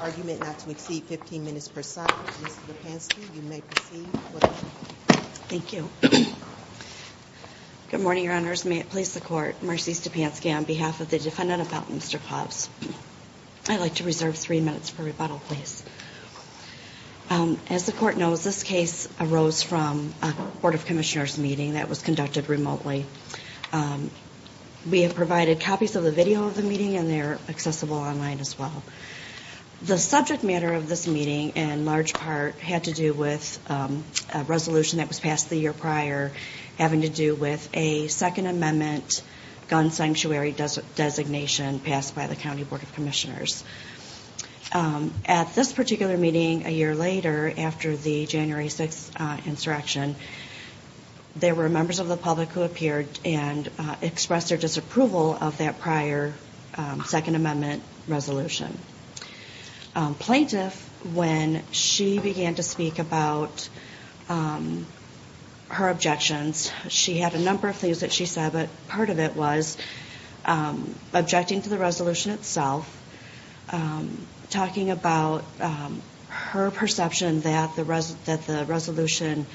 Argument not to exceed 15 minutes per side, Ms. Stepanski, you may proceed with the hearing. Thank you. Good morning, Your Honors. May it please the Court, Marcy Stepanski on behalf of the defendant about Mr. Clous. I'd like to reserve three minutes for rebuttal, please. As the Court knows, this case arose from a Board of Commissioners meeting that was conducted remotely. We have provided copies of the video of the meeting and they're accessible online as well. The subject matter of this meeting in large part had to do with a resolution that was passed the year prior having to do with a Second Amendment gun sanctuary designation passed by the County Board of Commissioners. At this particular meeting a year later, after the January 6th insurrection, there were members of the public who appeared and expressed their disapproval of that prior Second Amendment resolution. Plaintiff, when she began to speak about her objections, she had a number of things that she said, but part of it was objecting to the resolution itself, talking about her perception that the resolution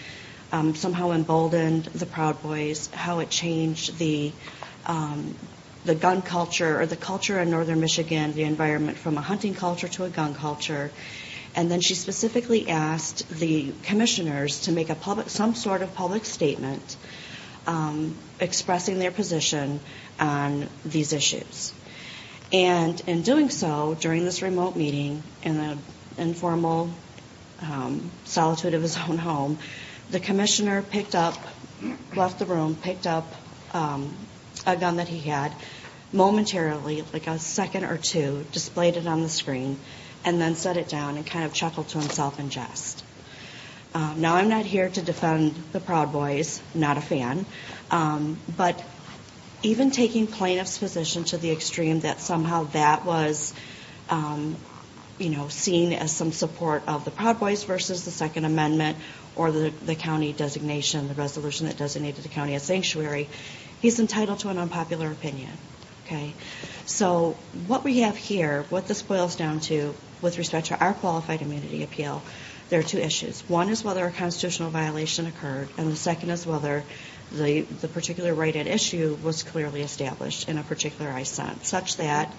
somehow emboldened the Proud Boys, how it changed the gun culture or the culture in northern Michigan, the environment from a hunting culture to a gun culture. And then she specifically asked the commissioners to make some sort of public statement expressing their position on these issues. And in doing so, during this remote meeting in the informal solitude of his own home, the commissioner picked up, left the room, picked up a gun that he had momentarily, like a second or two, displayed it on the screen, and then set it down and kind of chuckled to himself in jest. Now, I'm not here to defend the Proud Boys. Not a fan. But even taking plaintiff's position to the extreme that somehow that was, you know, seen as some support of the Proud Boys versus the Second Amendment or the county designation, the resolution that designated the county a sanctuary, he's entitled to an unpopular opinion, okay? So what we have here, what this boils down to with respect to our qualified immunity appeal, there are two issues. One is whether a constitutional violation occurred, and the second is whether the particular right at issue was clearly established in a particular sense, such that...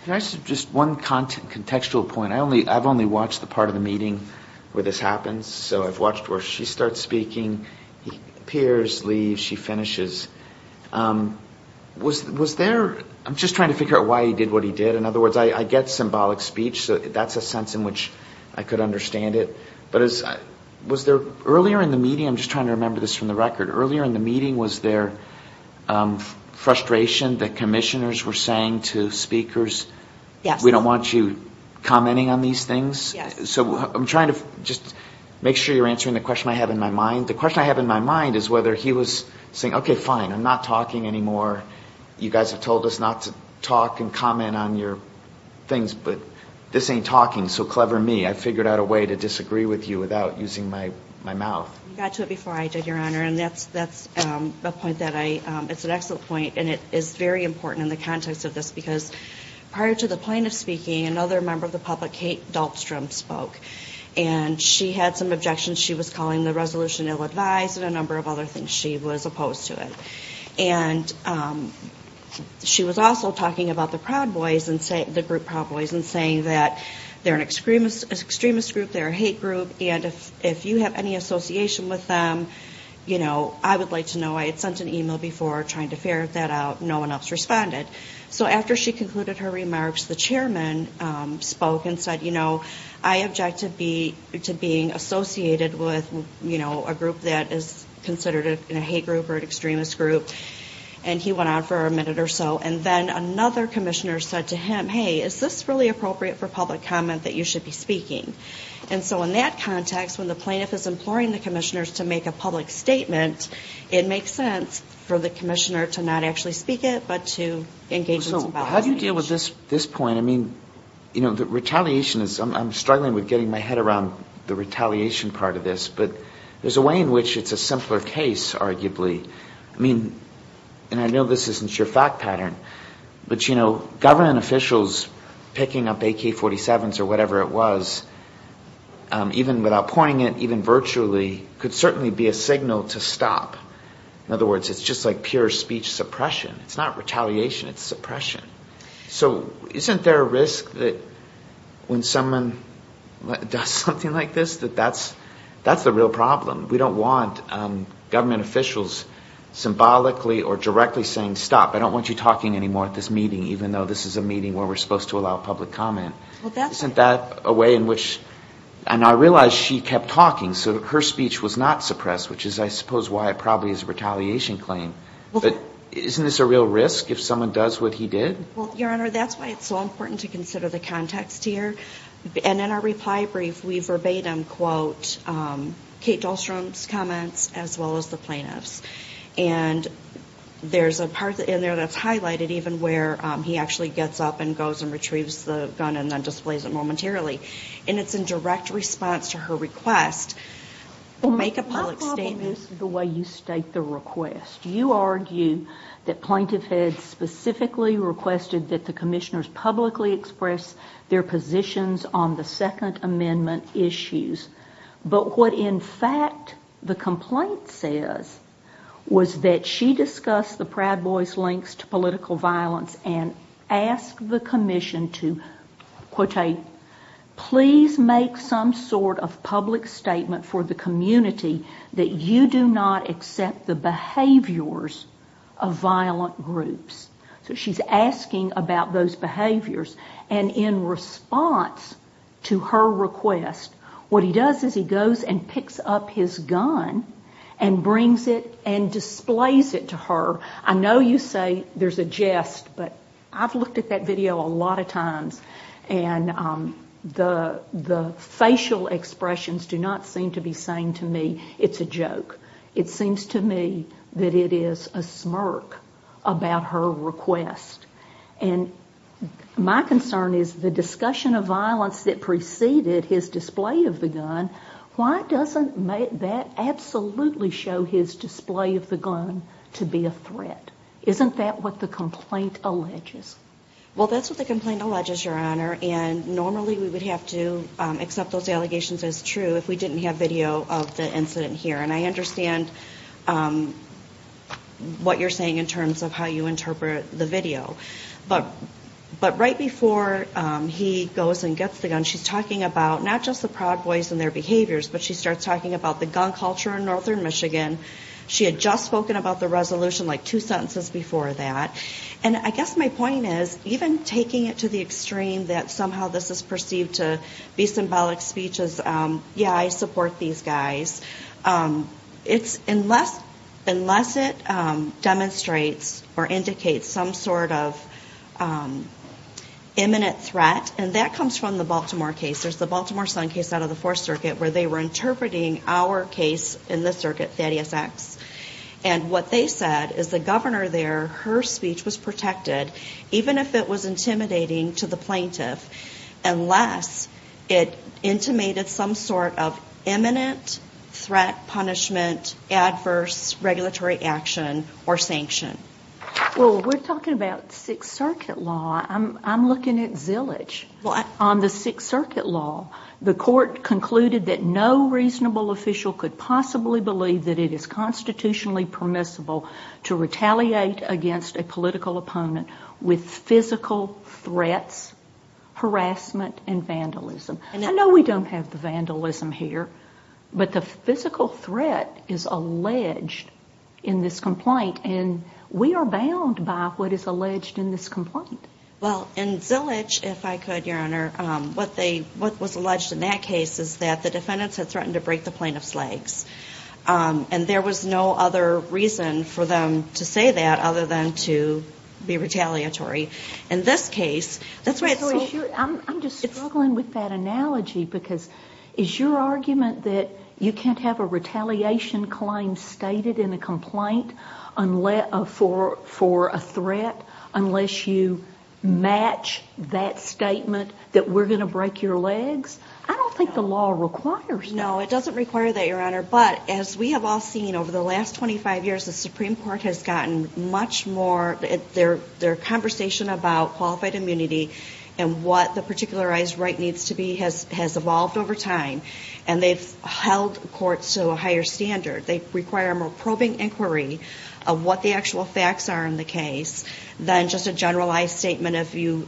Just one contextual point. I've only watched the part of the meeting where this happens. So I've watched where she starts speaking, he appears, leaves, she finishes. Was there ‑‑ I'm just trying to figure out why he did what he did. In other words, I get symbolic speech, so that's a sense in which I could understand it. But was there ‑‑ earlier in the meeting, I'm just trying to remember this from the record, was there frustration that commissioners were saying to speakers, we don't want you commenting on these things? So I'm trying to just make sure you're answering the question I have in my mind. The question I have in my mind is whether he was saying, okay, fine, I'm not talking anymore. You guys have told us not to talk and comment on your things, but this ain't talking. So clever me, I figured out a way to disagree with you without using my mouth. You got to it before I did, Your Honor, and that's a point that I ‑‑ it's an excellent point, and it is very important in the context of this, because prior to the plaintiff speaking, another member of the public, Kate Dahlstrom, spoke. And she had some objections. She was calling the resolution ill‑advised and a number of other things. She was opposed to it. And she was also talking about the Proud Boys, the group Proud Boys, and saying that they're an extremist group, they're a hate group, and if you have any association with them, you know, I would like to know. I had sent an email before trying to ferret that out. No one else responded. So after she concluded her remarks, the chairman spoke and said, you know, I object to being associated with, you know, a group that is considered a hate group or an extremist group. And he went on for a minute or so, and then another commissioner said to him, hey, is this really appropriate for public comment that you should be speaking? And so in that context, when the plaintiff is imploring the commissioners to make a public statement, it makes sense for the commissioner to not actually speak it, but to engage in some ‑‑ So how do you deal with this point? I mean, you know, the retaliation is ‑‑ I'm struggling with getting my head around the retaliation part of this, but there's a way in which it's a simpler case, arguably. I mean, and I know this isn't your fact pattern, but, you know, government officials picking up AK47s or whatever it was, even without pointing it, even virtually, could certainly be a signal to stop. In other words, it's just like pure speech suppression. It's not retaliation, it's suppression. So isn't there a risk that when someone does something like this, that that's the real problem? We don't want government officials symbolically or directly saying, stop, I don't want you talking anymore at this meeting, even though this is a meeting where we're supposed to allow public comment. Isn't that a way in which ‑‑ and I realize she kept talking, so her speech was not suppressed, which is, I suppose, why it probably is a retaliation claim. But isn't this a real risk if someone does what he did? Well, Your Honor, that's why it's so important to consider the context here. And in our reply brief, we verbatim quote Kate Dahlstrom's comments as well as the plaintiff's. And there's a part in there that's highlighted, even where he actually gets up and goes and retrieves the gun and then displays it momentarily. And it's in direct response to her request to make a public statement. This is the way you state the request. You argue that plaintiff had specifically requested that the commissioners publicly express their positions on the Second Amendment issues. But what, in fact, the complaint says was that she discussed the Proud Boys' links to political violence and asked the commission to, quote Kate, please make some sort of public statement for the community that you do not accept the behaviors of violent groups. So she's asking about those behaviors. And in response to her request, what he does is he goes and picks up his gun and brings it and displays it to her. I know you say there's a jest, but I've looked at that video a lot of times and the facial expressions do not seem to be saying to me it's a joke. It seems to me that it is a smirk about her request. And my concern is the discussion of violence that preceded his display of the gun, why doesn't that absolutely show his display of the gun to be a threat? Isn't that what the complaint alleges? Well, that's what the complaint alleges, Your Honor, and normally we would have to accept those allegations as true if we didn't have video of the incident here. And I understand what you're saying in terms of how you interpret the video. But right before he goes and gets the gun, she's talking about not just the Proud Boys and their behaviors, but she starts talking about the gun culture in northern Michigan. She had just spoken about the resolution like two sentences before that. And I guess my point is, even taking it to the extreme that somehow this is perceived to be symbolic speech as, yeah, I support these guys, it's unless it demonstrates or indicates some sort of imminent threat, and that comes from the Baltimore case, there's the Baltimore Sun case out of the Fourth Circuit where they were interpreting our case in the circuit, 30SX. And what they said is the governor there, her speech was protected, even if it was intimidating to the plaintiff, unless it intimated some sort of imminent threat, punishment, adverse regulatory action or sanction. Well, we're talking about Sixth Circuit law. I'm looking at Zillage. On the Sixth Circuit law, the court concluded that no reasonable official could possibly believe that it is constitutionally permissible to retaliate against a political opponent with physical threats, harassment and vandalism. I know we don't have the vandalism here, but the physical threat is alleged in this complaint. And we are bound by what is alleged in this complaint. Well, in Zillage, if I could, Your Honor, what was alleged in that case is that the defendants had threatened to break the plaintiff's legs. And there was no other reason for them to say that other than to be retaliatory. In this case, that's why it's so... I'm just struggling with that analogy, because is your argument that you can't have a retaliation claim stated in a complaint for a threat unless you match that statement that we're going to break your legs? I don't think the law requires that. No, it doesn't require that, Your Honor. But as we have all seen over the last 25 years, the Supreme Court has gotten much more... Their conversation about qualified immunity and what the particularized right needs to be has evolved over time. And they've held courts to a higher standard. They require a more probing inquiry of what the actual facts are in the case than just a generalized statement of you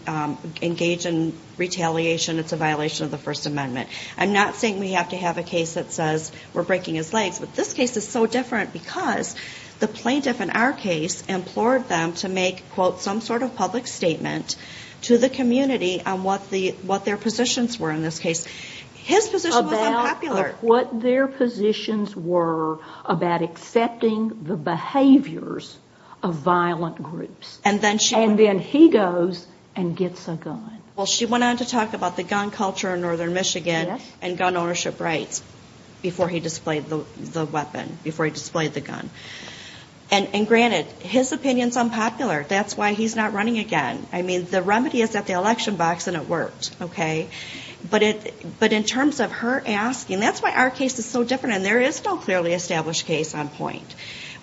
engage in retaliation, it's a violation of the First Amendment. I'm not saying we have to have a case that says we're breaking his legs, but this case is so different because the plaintiff in our case implored them to make, quote, some sort of public statement to the community on what their positions were in this case. His position was unpopular. About what their positions were about accepting the behaviors of violent groups. And then he goes and gets a gun. Well, she went on to talk about the gun culture in northern Michigan and gun ownership rights before he displayed the weapon, before he displayed the gun. And granted, his opinion's unpopular. That's why he's not running again. I mean, the remedy is at the election box and it worked, okay? But in terms of her asking, that's why our case is so different. And there is no clearly established case on point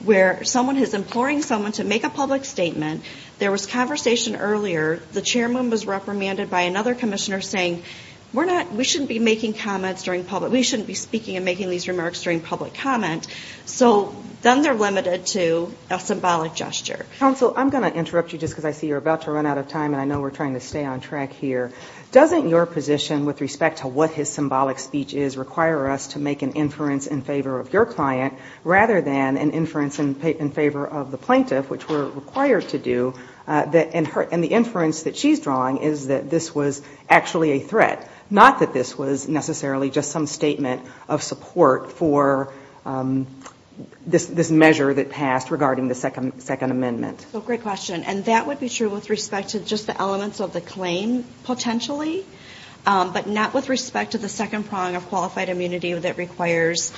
where someone is imploring someone to make a public statement, there was conversation earlier, the chairman was reprimanded by another commissioner saying, we're not, we shouldn't be making comments during public, we shouldn't be speaking and making these remarks during public comment. So then they're limited to a symbolic gesture. Counsel, I'm going to interrupt you just because I see you're about to run out of time and I know we're trying to stay on track here. Doesn't your position with respect to what his symbolic speech is require us to make an inference in favor of your client rather than an inference in favor of the plaintiff, which we're required to do, and the inference that she's drawing is that this was actually a threat, not that this was necessarily just some statement of support for this measure that passed regarding the Second Amendment. So great question. And that would be true with respect to just the elements of the claim, potentially, but not with respect to the second prong of qualified immunity that requires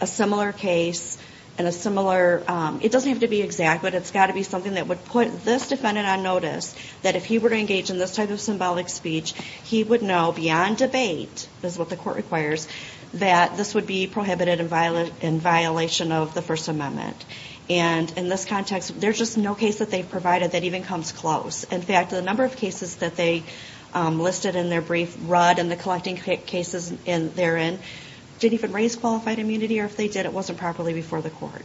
a similar case and a similar, it doesn't have to be exact, but it's got to be something that would put this defendant on notice, that if he were to engage in this type of symbolic speech, he would know beyond debate, is what the court requires, that this would be prohibited in violation of the First Amendment. And in this context, there's just no case that they've provided that even comes close. In fact, the number of cases that they listed in their brief read in the collecting cases therein didn't even raise qualified immunity, or if they did, it wasn't properly before the court.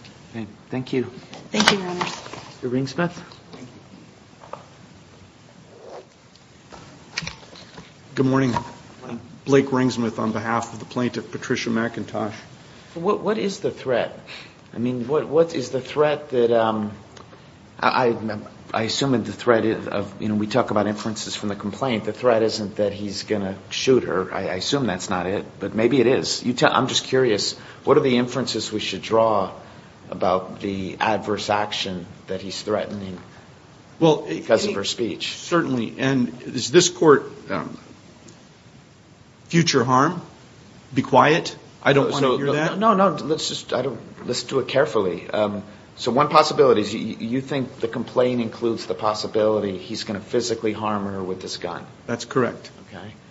Thank you. Thank you, Your Honor. Good morning. Blake Ringsmith on behalf of the plaintiff, Patricia McIntosh. What is the threat? I mean, what is the threat that, I assume the threat of, you know, we talk about inferences from the complaint. The threat isn't that he's going to shoot her. I assume that's not it, but maybe it is. I'm just curious, what are the inferences we should draw about the adverse action that he's threatening because of her speech? Certainly. And is this court future harm? Be quiet? I don't want to hear that. No, no, let's just do it carefully. So one possibility is you think the complaint includes the possibility he's going to physically harm her with this gun. That's correct.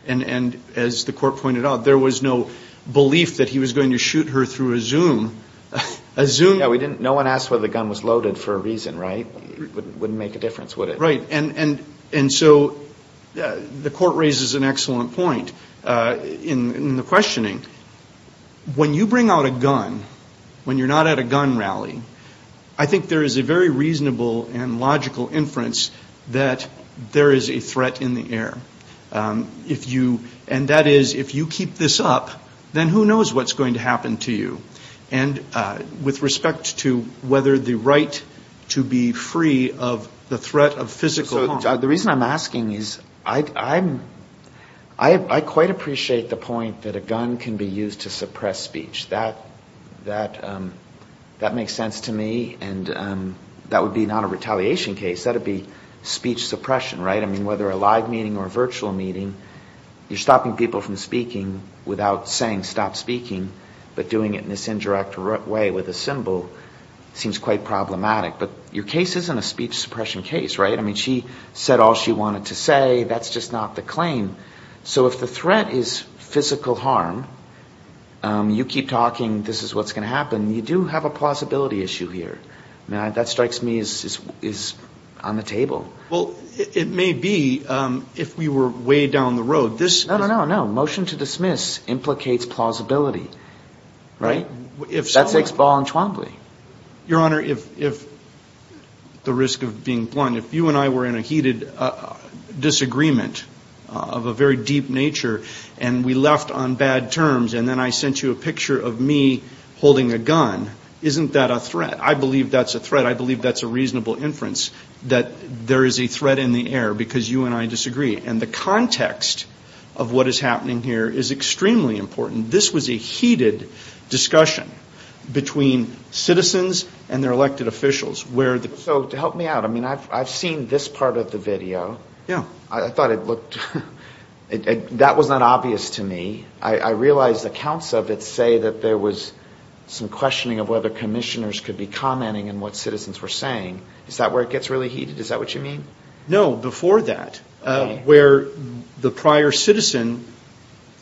And as the court pointed out, there was no belief that he was going to shoot her through a zoom. No one asked whether the gun was loaded for a reason, right? Wouldn't make a difference, would it? Right. And so the court raises an excellent point in the questioning. When you bring out a gun, when you're not at a gun rally, I think there is a very reasonable and logical inference that there is a threat in the air. And that is if you keep this up, then who knows what's going to happen to you. And with respect to whether the right to be free of the threat of physical harm. The reason I'm asking is I quite appreciate the point that a gun can be used to suppress speech. That makes sense to me. And that would be not a retaliation case, that would be speech suppression, right? I mean, whether a live meeting or a virtual meeting, you're stopping people from speaking without saying stop speaking, but doing it in this indirect way with a symbol seems quite problematic. But your case isn't a speech suppression case, right? I mean, she said all she wanted to say, that's just not the claim. So if the threat is physical harm, you keep talking, this is what's going to happen. You do have a plausibility issue here. That strikes me as on the table. Well, it may be if we were way down the road. No, no, no. Motion to dismiss implicates plausibility, right? That takes ball and trombly. Your Honor, if the risk of being blunt, if you and I were in a heated disagreement of a very deep nature, and we left on bad terms, and then I sent you a picture of me holding a gun, isn't that a threat? I believe that's a threat. I believe that's a reasonable inference, that there is a threat in the air because you and I disagree. And the context of what is happening here is extremely important. This was a heated discussion between citizens and their elected officials. So to help me out, I mean, I've seen this part of the video. I thought it looked, that was not obvious to me. I realize accounts of it say that there was some questioning of whether commissioners could be commenting on what citizens were saying. Is that where it gets really heated? Is that what you mean? No, before that, where the prior citizen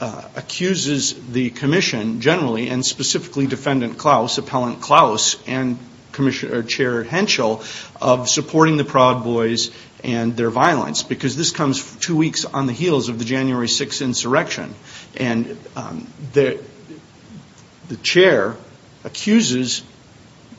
accuses the commission generally, and specifically Defendant Klaus, Appellant Klaus, and Chair Henschel, of supporting the Proud Boys and their violence. Because this comes two weeks on the heels of the January 6th insurrection. And the chair accuses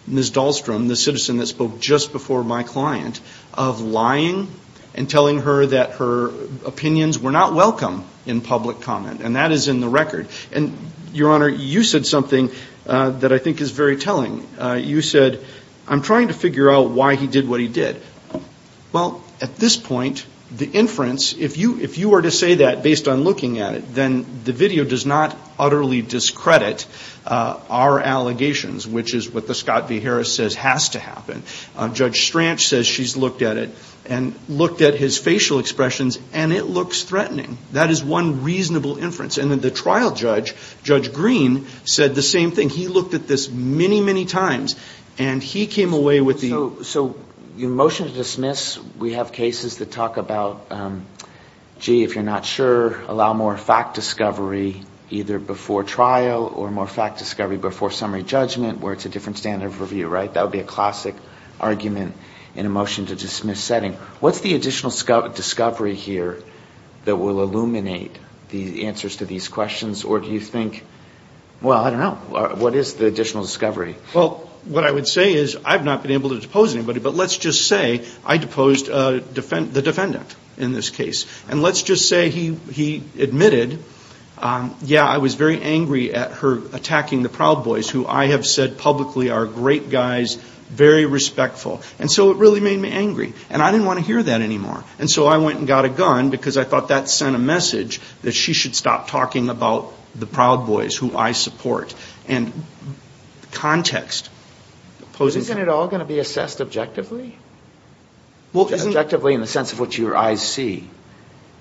Ms. Dahlstrom, the citizen that spoke just before my client, of lying and telling her that her opinions were not welcome in public comment. And that is in the record. And, Your Honor, you said something that I think is very telling. You said, I'm trying to figure out why he did what he did. Well, at this point, the inference, if you were to say that based on looking at it, then the video does not utterly discredit our allegations, which is what the Scott v. Harris says has to happen. Judge Stranch says she's looked at it and looked at his facial expressions, and it looks threatening. That is one reasonable inference. And then the trial judge, Judge Green, said the same thing. He looked at this many, many times, and he came away with the... So your motion to dismiss, we have cases that talk about, gee, if you're not sure, allow more fact discovery either before trial or more fact discovery before summary judgment, where it's a different standard of review, right? That would be a classic argument in a motion to dismiss setting. What's the additional discovery here that will illuminate the answers to these questions? Or do you think, well, I don't know, what is the additional discovery? Well, what I would say is I've not been able to depose anybody, but let's just say I deposed the defendant in this case. And let's just say he admitted, yeah, I was very angry at her attacking the Proud Boys, who I have said publicly are great guys, very respectful. And so it really made me angry, and I didn't want to hear that anymore. And so I went and got a gun because I thought that sent a message that she should stop talking about the Proud Boys, who I support. And context poses... Isn't it all going to be assessed objectively? Objectively in the sense of what your eyes see.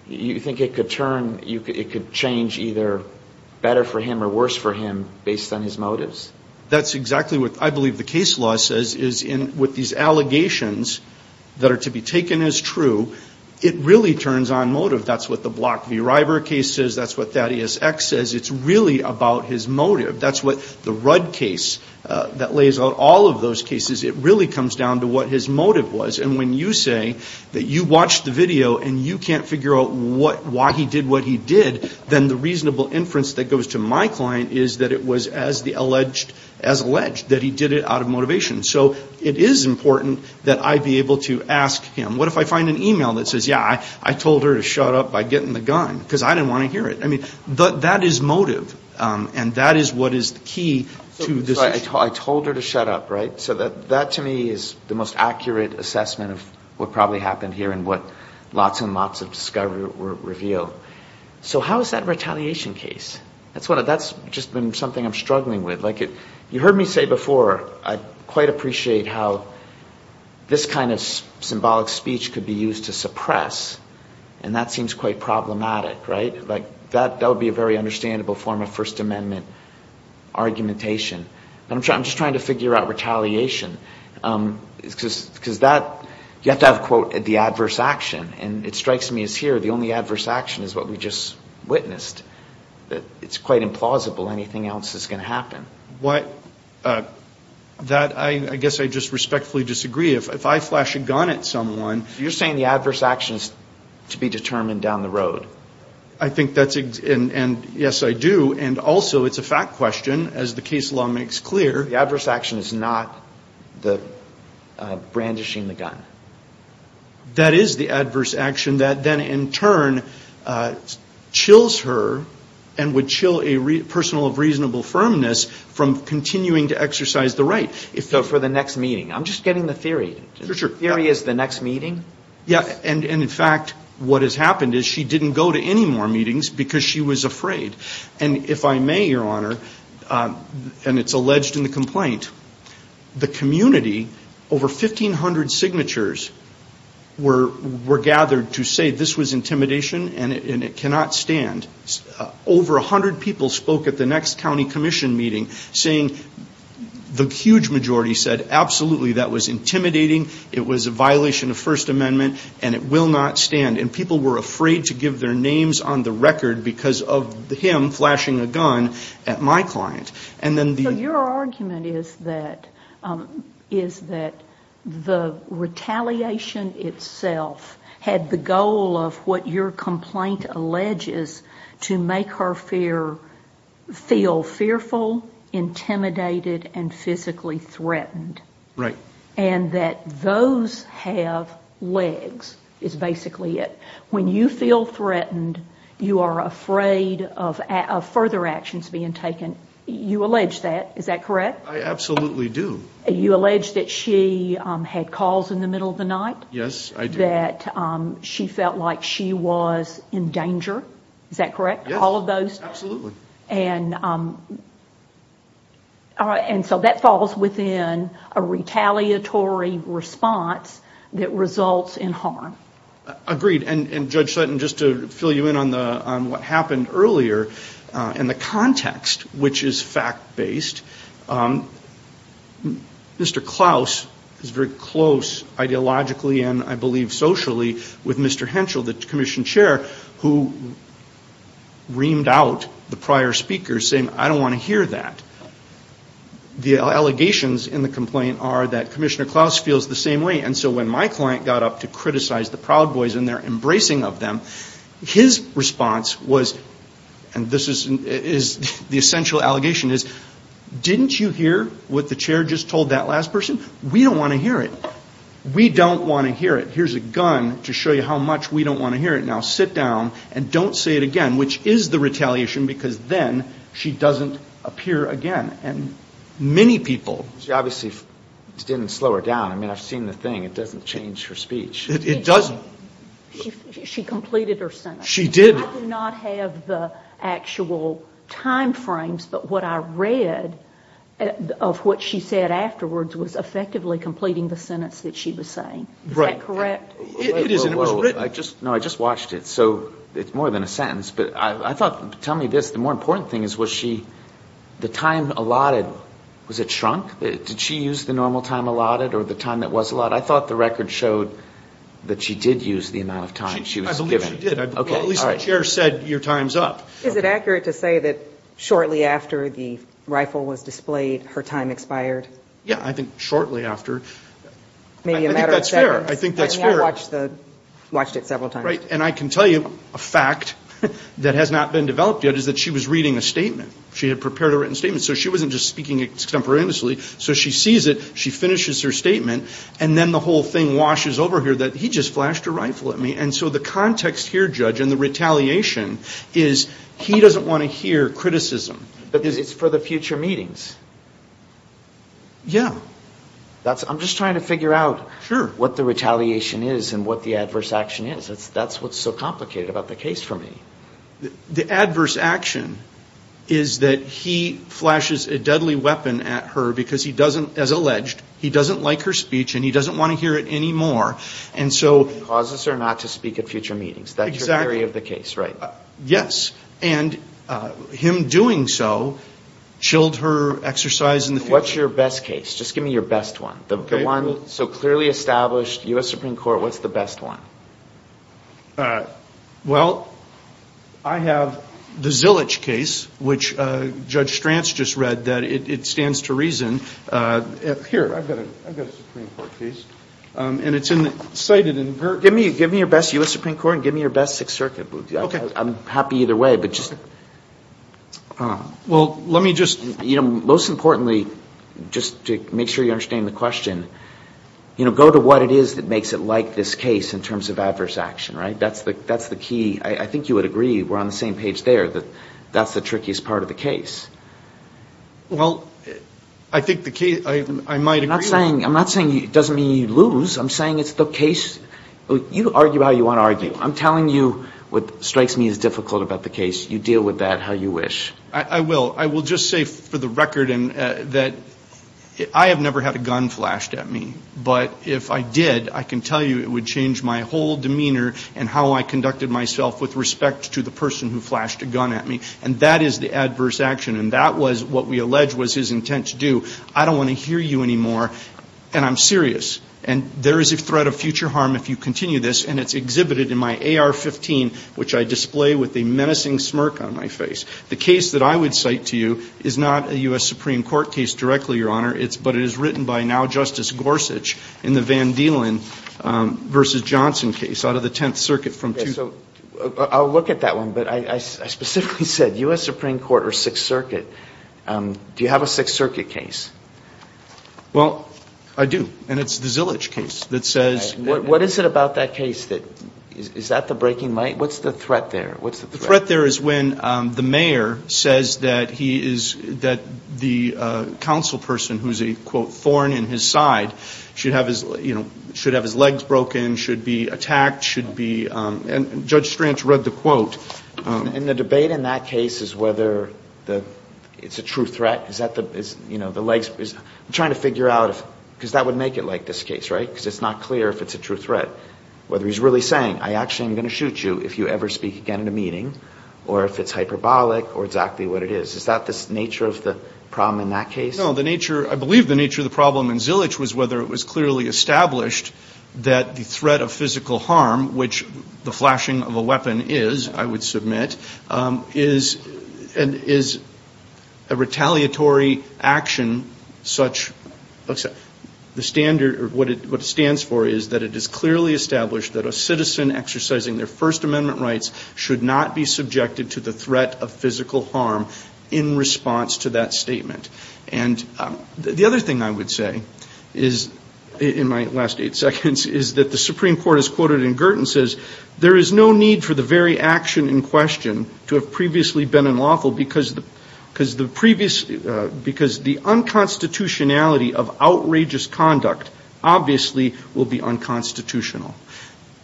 You think it could turn, it could change either better for him or worse for him based on his motives? That's exactly what I believe the case law says, is with these allegations that are to be taken as true, it really turns on motive. That's what the Block v. Ryber case says, that's what Thaddeus X says. It's really about his motive. That's what the Rudd case that lays out all of those cases, it really comes down to what his motive was. And when you say that you watched the video and you can't figure out why he did what he did, then the reasonable inference that goes to my client is that it was as alleged that he did it out of motivation. So it is important that I be able to ask him, what if I find an email that says, yeah, I told her to shut up by getting the gun, because I didn't want to hear it. I mean, that is motive, and that is what is the key to this issue. I told her to shut up, right? So that to me is the most accurate assessment of what probably happened here and what lots and lots of discovery reveal. So how is that retaliation case? That's just been something I'm struggling with. You heard me say before, I quite appreciate how this kind of symbolic speech could be used to suppress, and that seems quite problematic, right? That would be a very understandable form of First Amendment argumentation. I'm just trying to figure out retaliation, because you have to have, quote, the adverse action. And it strikes me as here, the only adverse action is what we just witnessed. It's quite implausible anything else is going to happen. That, I guess I just respectfully disagree. If I flash a gun at someone... You're saying the adverse action is to be determined down the road. I think that's, and yes, I do, and also it's a fact question, as the case law makes clear. The adverse action is not the brandishing the gun. That is the adverse action that then in turn chills her and would chill a person of reasonable firmness from continuing to exercise the right. So for the next meeting. I'm just getting the theory. Theory is the next meeting. And in fact, what has happened is she didn't go to any more meetings because she was afraid. And if I may, Your Honor, and it's alleged in the complaint, the community, over 1,500 signatures were gathered to say this was intimidation and it cannot stand. Over 100 people spoke at the next county commission meeting, saying the huge majority said, absolutely, that was intimidating. It was a violation of First Amendment and it will not stand. And people were afraid to give their names on the record because of him flashing a gun at my client. So your argument is that the retaliation itself had the goal of what your complaint alleges to make her feel fearful, intimidated and physically threatened. And that those have legs is basically it. When you feel threatened, you are afraid of further actions being taken. You allege that. Is that correct? I absolutely do. You allege that she had calls in the middle of the night. Yes, I do. That she felt like she was in danger. Is that correct? Yes, absolutely. And so that falls within a retaliatory response that results in harm. Agreed. And Judge Sutton, just to fill you in on what happened earlier in the context, which is fact-based, Mr. Klaus is very close ideologically and I believe socially with Mr. Henschel, the commission chair, who reamed out the prior speaker saying, I don't want to hear that. The allegations in the complaint are that Commissioner Klaus feels the same way. And so when my client got up to criticize the Proud Boys and their embracing of them, his response was, and this is the essential allegation, is, didn't you hear what the chair just told that last person? We don't want to hear it. We don't want to hear it. Here's a gun to show you how much we don't want to hear it. Now sit down and don't say it again, which is the retaliation, because then she doesn't appear again. And many people... She obviously didn't slow her down. I mean, I've seen the thing. It doesn't change her speech. She completed her sentence. I do not have the actual time frames, but what I read of what she said afterwards was effectively completing the sentence that she was saying. Is that correct? No, I just watched it. So it's more than a sentence. But I thought, tell me this, the more important thing is, was she, the time allotted, was it shrunk? Did she use the normal time allotted or the time that was allotted? I thought the record showed that she did use the amount of time she was given. I believe she did. At least the chair said, your time's up. Is it accurate to say that shortly after the rifle was displayed, her time expired? Yeah, I think shortly after. Maybe a matter of seconds. I mean, I watched it several times. And I can tell you a fact that has not been developed yet is that she was reading a statement. She had prepared a written statement, so she wasn't just speaking extemporaneously. So she sees it, she finishes her statement, and then the whole thing washes over here that he just flashed a rifle at me. And so the context here, Judge, and the retaliation is he doesn't want to hear criticism. But it's for the future meetings. I'm just trying to figure out what the retaliation is and what the adverse action is. That's what's so complicated about the case for me. The adverse action is that he flashes a deadly weapon at her because he doesn't, as alleged, he doesn't like her speech and he doesn't want to hear it anymore. Causes her not to speak at future meetings. That's your theory of the case, right? Yes. And him doing so chilled her exercise in the future. What's your best case? Just give me your best one. The one so clearly established, U.S. Supreme Court, what's the best one? Well, I have the Zilich case, which Judge Stranz just read, that it stands to reason. Here, I've got a Supreme Court case. Give me your best U.S. Supreme Court and give me your best Sixth Circuit. I'm happy either way. Most importantly, just to make sure you understand the question, go to what it is that makes it like this case in terms of adverse action. I think you would agree, we're on the same page there, that that's the trickiest part of the case. Well, I think the case, I might agree. I'm not saying it doesn't mean you lose. I'm saying it's the case. You argue how you want to argue. I'm telling you what strikes me as difficult about the case. You deal with that how you wish. I will. I will just say for the record that I have never had a gun flashed at me. But if I did, I can tell you it would change my whole demeanor and how I conducted myself with respect to the person who flashed a gun at me. And that is the adverse action. And that was what we allege was his intent to do. I don't want to hear you anymore. And I'm serious. And there is a threat of future harm if you continue this. And it's exhibited in my AR-15, which I display with a menacing smirk on my face. The case that I would cite to you is not a U.S. Supreme Court case directly, Your Honor. But it is written by now Justice Gorsuch in the Van Dielen v. Johnson case out of the Tenth Circuit from 2002. I'll look at that one. But I specifically said U.S. Supreme Court or Sixth Circuit. Do you have a Sixth Circuit case? Well, I do. And it's the Zillage case that says. What is it about that case that is that the breaking light? What's the threat there? What's the threat? The threat there is when the mayor says that he is that the council person who's a, quote, thorn in his side should have his, you know, should have his legs broken, should be attacked, should be. And Judge Strantz read the quote. And the debate in that case is whether it's a true threat. Is that the you know, the legs. I'm trying to figure out because that would make it like this case. Right. Because it's not clear if it's a true threat. Whether he's really saying I actually am going to shoot you if you ever speak again in a meeting or if it's hyperbolic or exactly what it is. Is that the nature of the problem in that case? The nature I believe the nature of the problem in Zillage was whether it was clearly established that the threat of physical harm, which the flashing of a weapon is, I would submit, is and is a retaliatory action such that the standard or what it stands for is that it is clearly established that a citizen exercising their First Amendment rights should not be subjected to the threat of physical harm in response to that statement. And the other thing I would say is in my last eight seconds, is that the Supreme Court is quoted in Girton says there is no need for the very action in question to have previously been unlawful because the unconstitutionality of outrageous conduct obviously will be unconstitutional.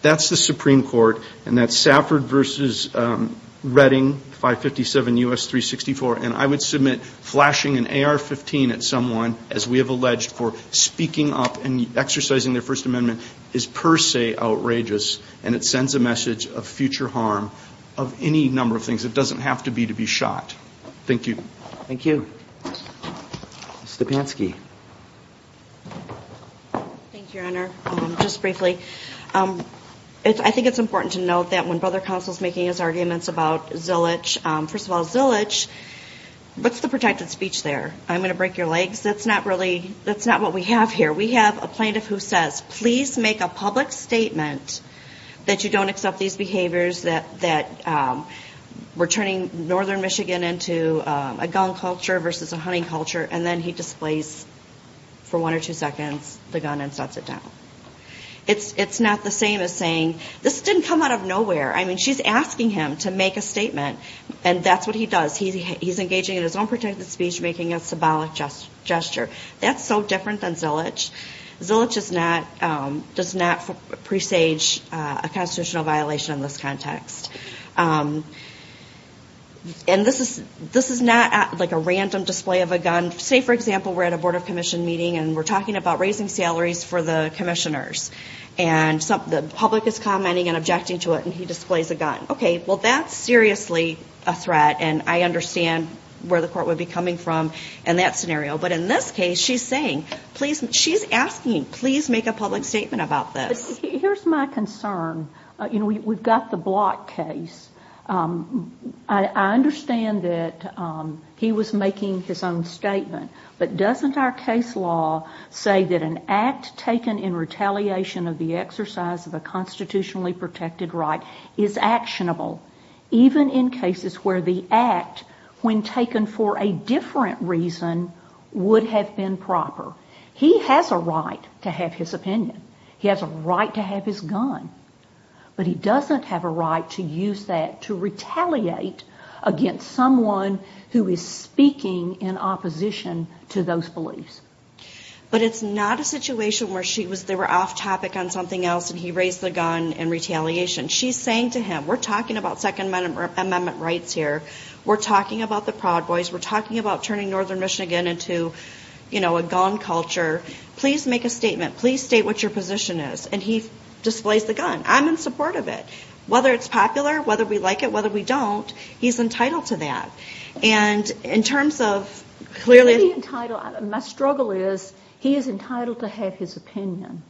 That's the Supreme Court and that's Safford v. Redding 557 U.S. 364. And I would submit flashing an AR-15 at someone, as we have alleged, for speaking up and exercising their First Amendment is per se outrageous and it sends a message of future harm of any number of things. It doesn't have to be to be shot. Thank you. Thank you. Ms. Stepanski. Thank you, Your Honor. Just briefly, I think it's important to note that when Brother Counsel is making his arguments about Zillage, first of all, Zillage, what's the protected speech there? I'm going to break your legs. That's not really, that's not what we have here. We have a plaintiff who says, please make a public statement that you don't accept these behaviors that we're turning northern Michigan into a gun culture versus a hunting culture and then he displays for one or two seconds the gun and shuts it down. It's not the same as saying, this didn't come out of nowhere. I mean, she's asking him to make a statement and that's what he does. He's engaging in his own protected speech making a symbolic gesture. That's so different than Zillage. Zillage does not presage a constitutional violation in this context. And this is not like a random display of a gun. Say, for example, we're at a Board of Commission meeting and we're talking about raising salaries for the commissioners. And the public is commenting and objecting to it and he displays a gun. Okay, well that's seriously a threat and I understand where the court would be coming from in that scenario. But in this case she's saying, she's asking him, please make a public statement about this. Here's my concern. You know, we've got the Block case. I understand that he was making his own statement. But doesn't our case law say that an act taken in retaliation of the exercise of a constitutionally protected right is actionable even in cases where the act when taken for a different reason would have been proper? He has a right to have his opinion. He has a right to have his gun. But he doesn't have a right to use that to retaliate against someone who is speaking in opposition to those beliefs. But it's not a situation where they were off topic on something else and he raised the gun in retaliation. She's saying to him, we're talking about Second Amendment rights here. We're talking about the Proud Boys. We're talking about turning northern Michigan into, you know, a gun culture. Please make a statement. Please state what your position is. And he displays the gun. I'm in support of it. Whether it's popular, whether we like it, whether we don't, he's entitled to that. And in terms of clearly... My struggle is he is entitled to have his opinion,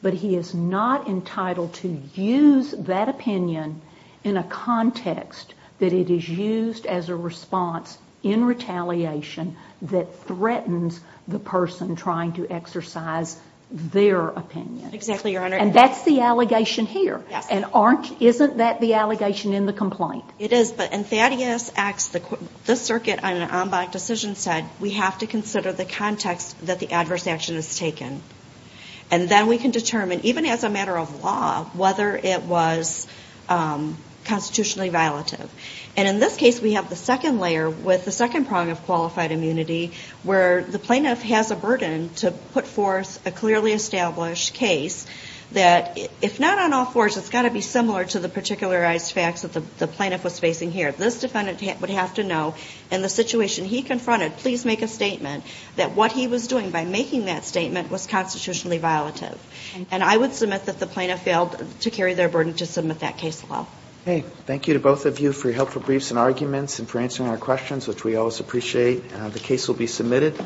but he is not entitled to use that opinion in a context that it is used as a response in retaliation that threatens the person trying to exercise their opinion. Exactly, Your Honor. And that's the allegation here. And isn't that the allegation in the complaint? It is, but in Thaddeus Acts, the circuit on an en banc decision said we have to consider the context that the adverse action is taken. And then we can determine, even as a matter of law, whether it was constitutionally violative. And in this case, we have the second layer with the second prong of qualified immunity, where the plaintiff has a burden to put forth a clearly established case that, if not on all fours, it's got to be similar to the particularized facts that the plaintiff was facing here. This defendant would have to know in the situation he confronted, please make a statement, that what he was doing by making that statement was constitutionally violative. And I would submit that the plaintiff failed to carry their burden to submit that case law. Thank you to both of you for your helpful briefs and arguments and for answering our questions, which we always appreciate. The case will be submitted.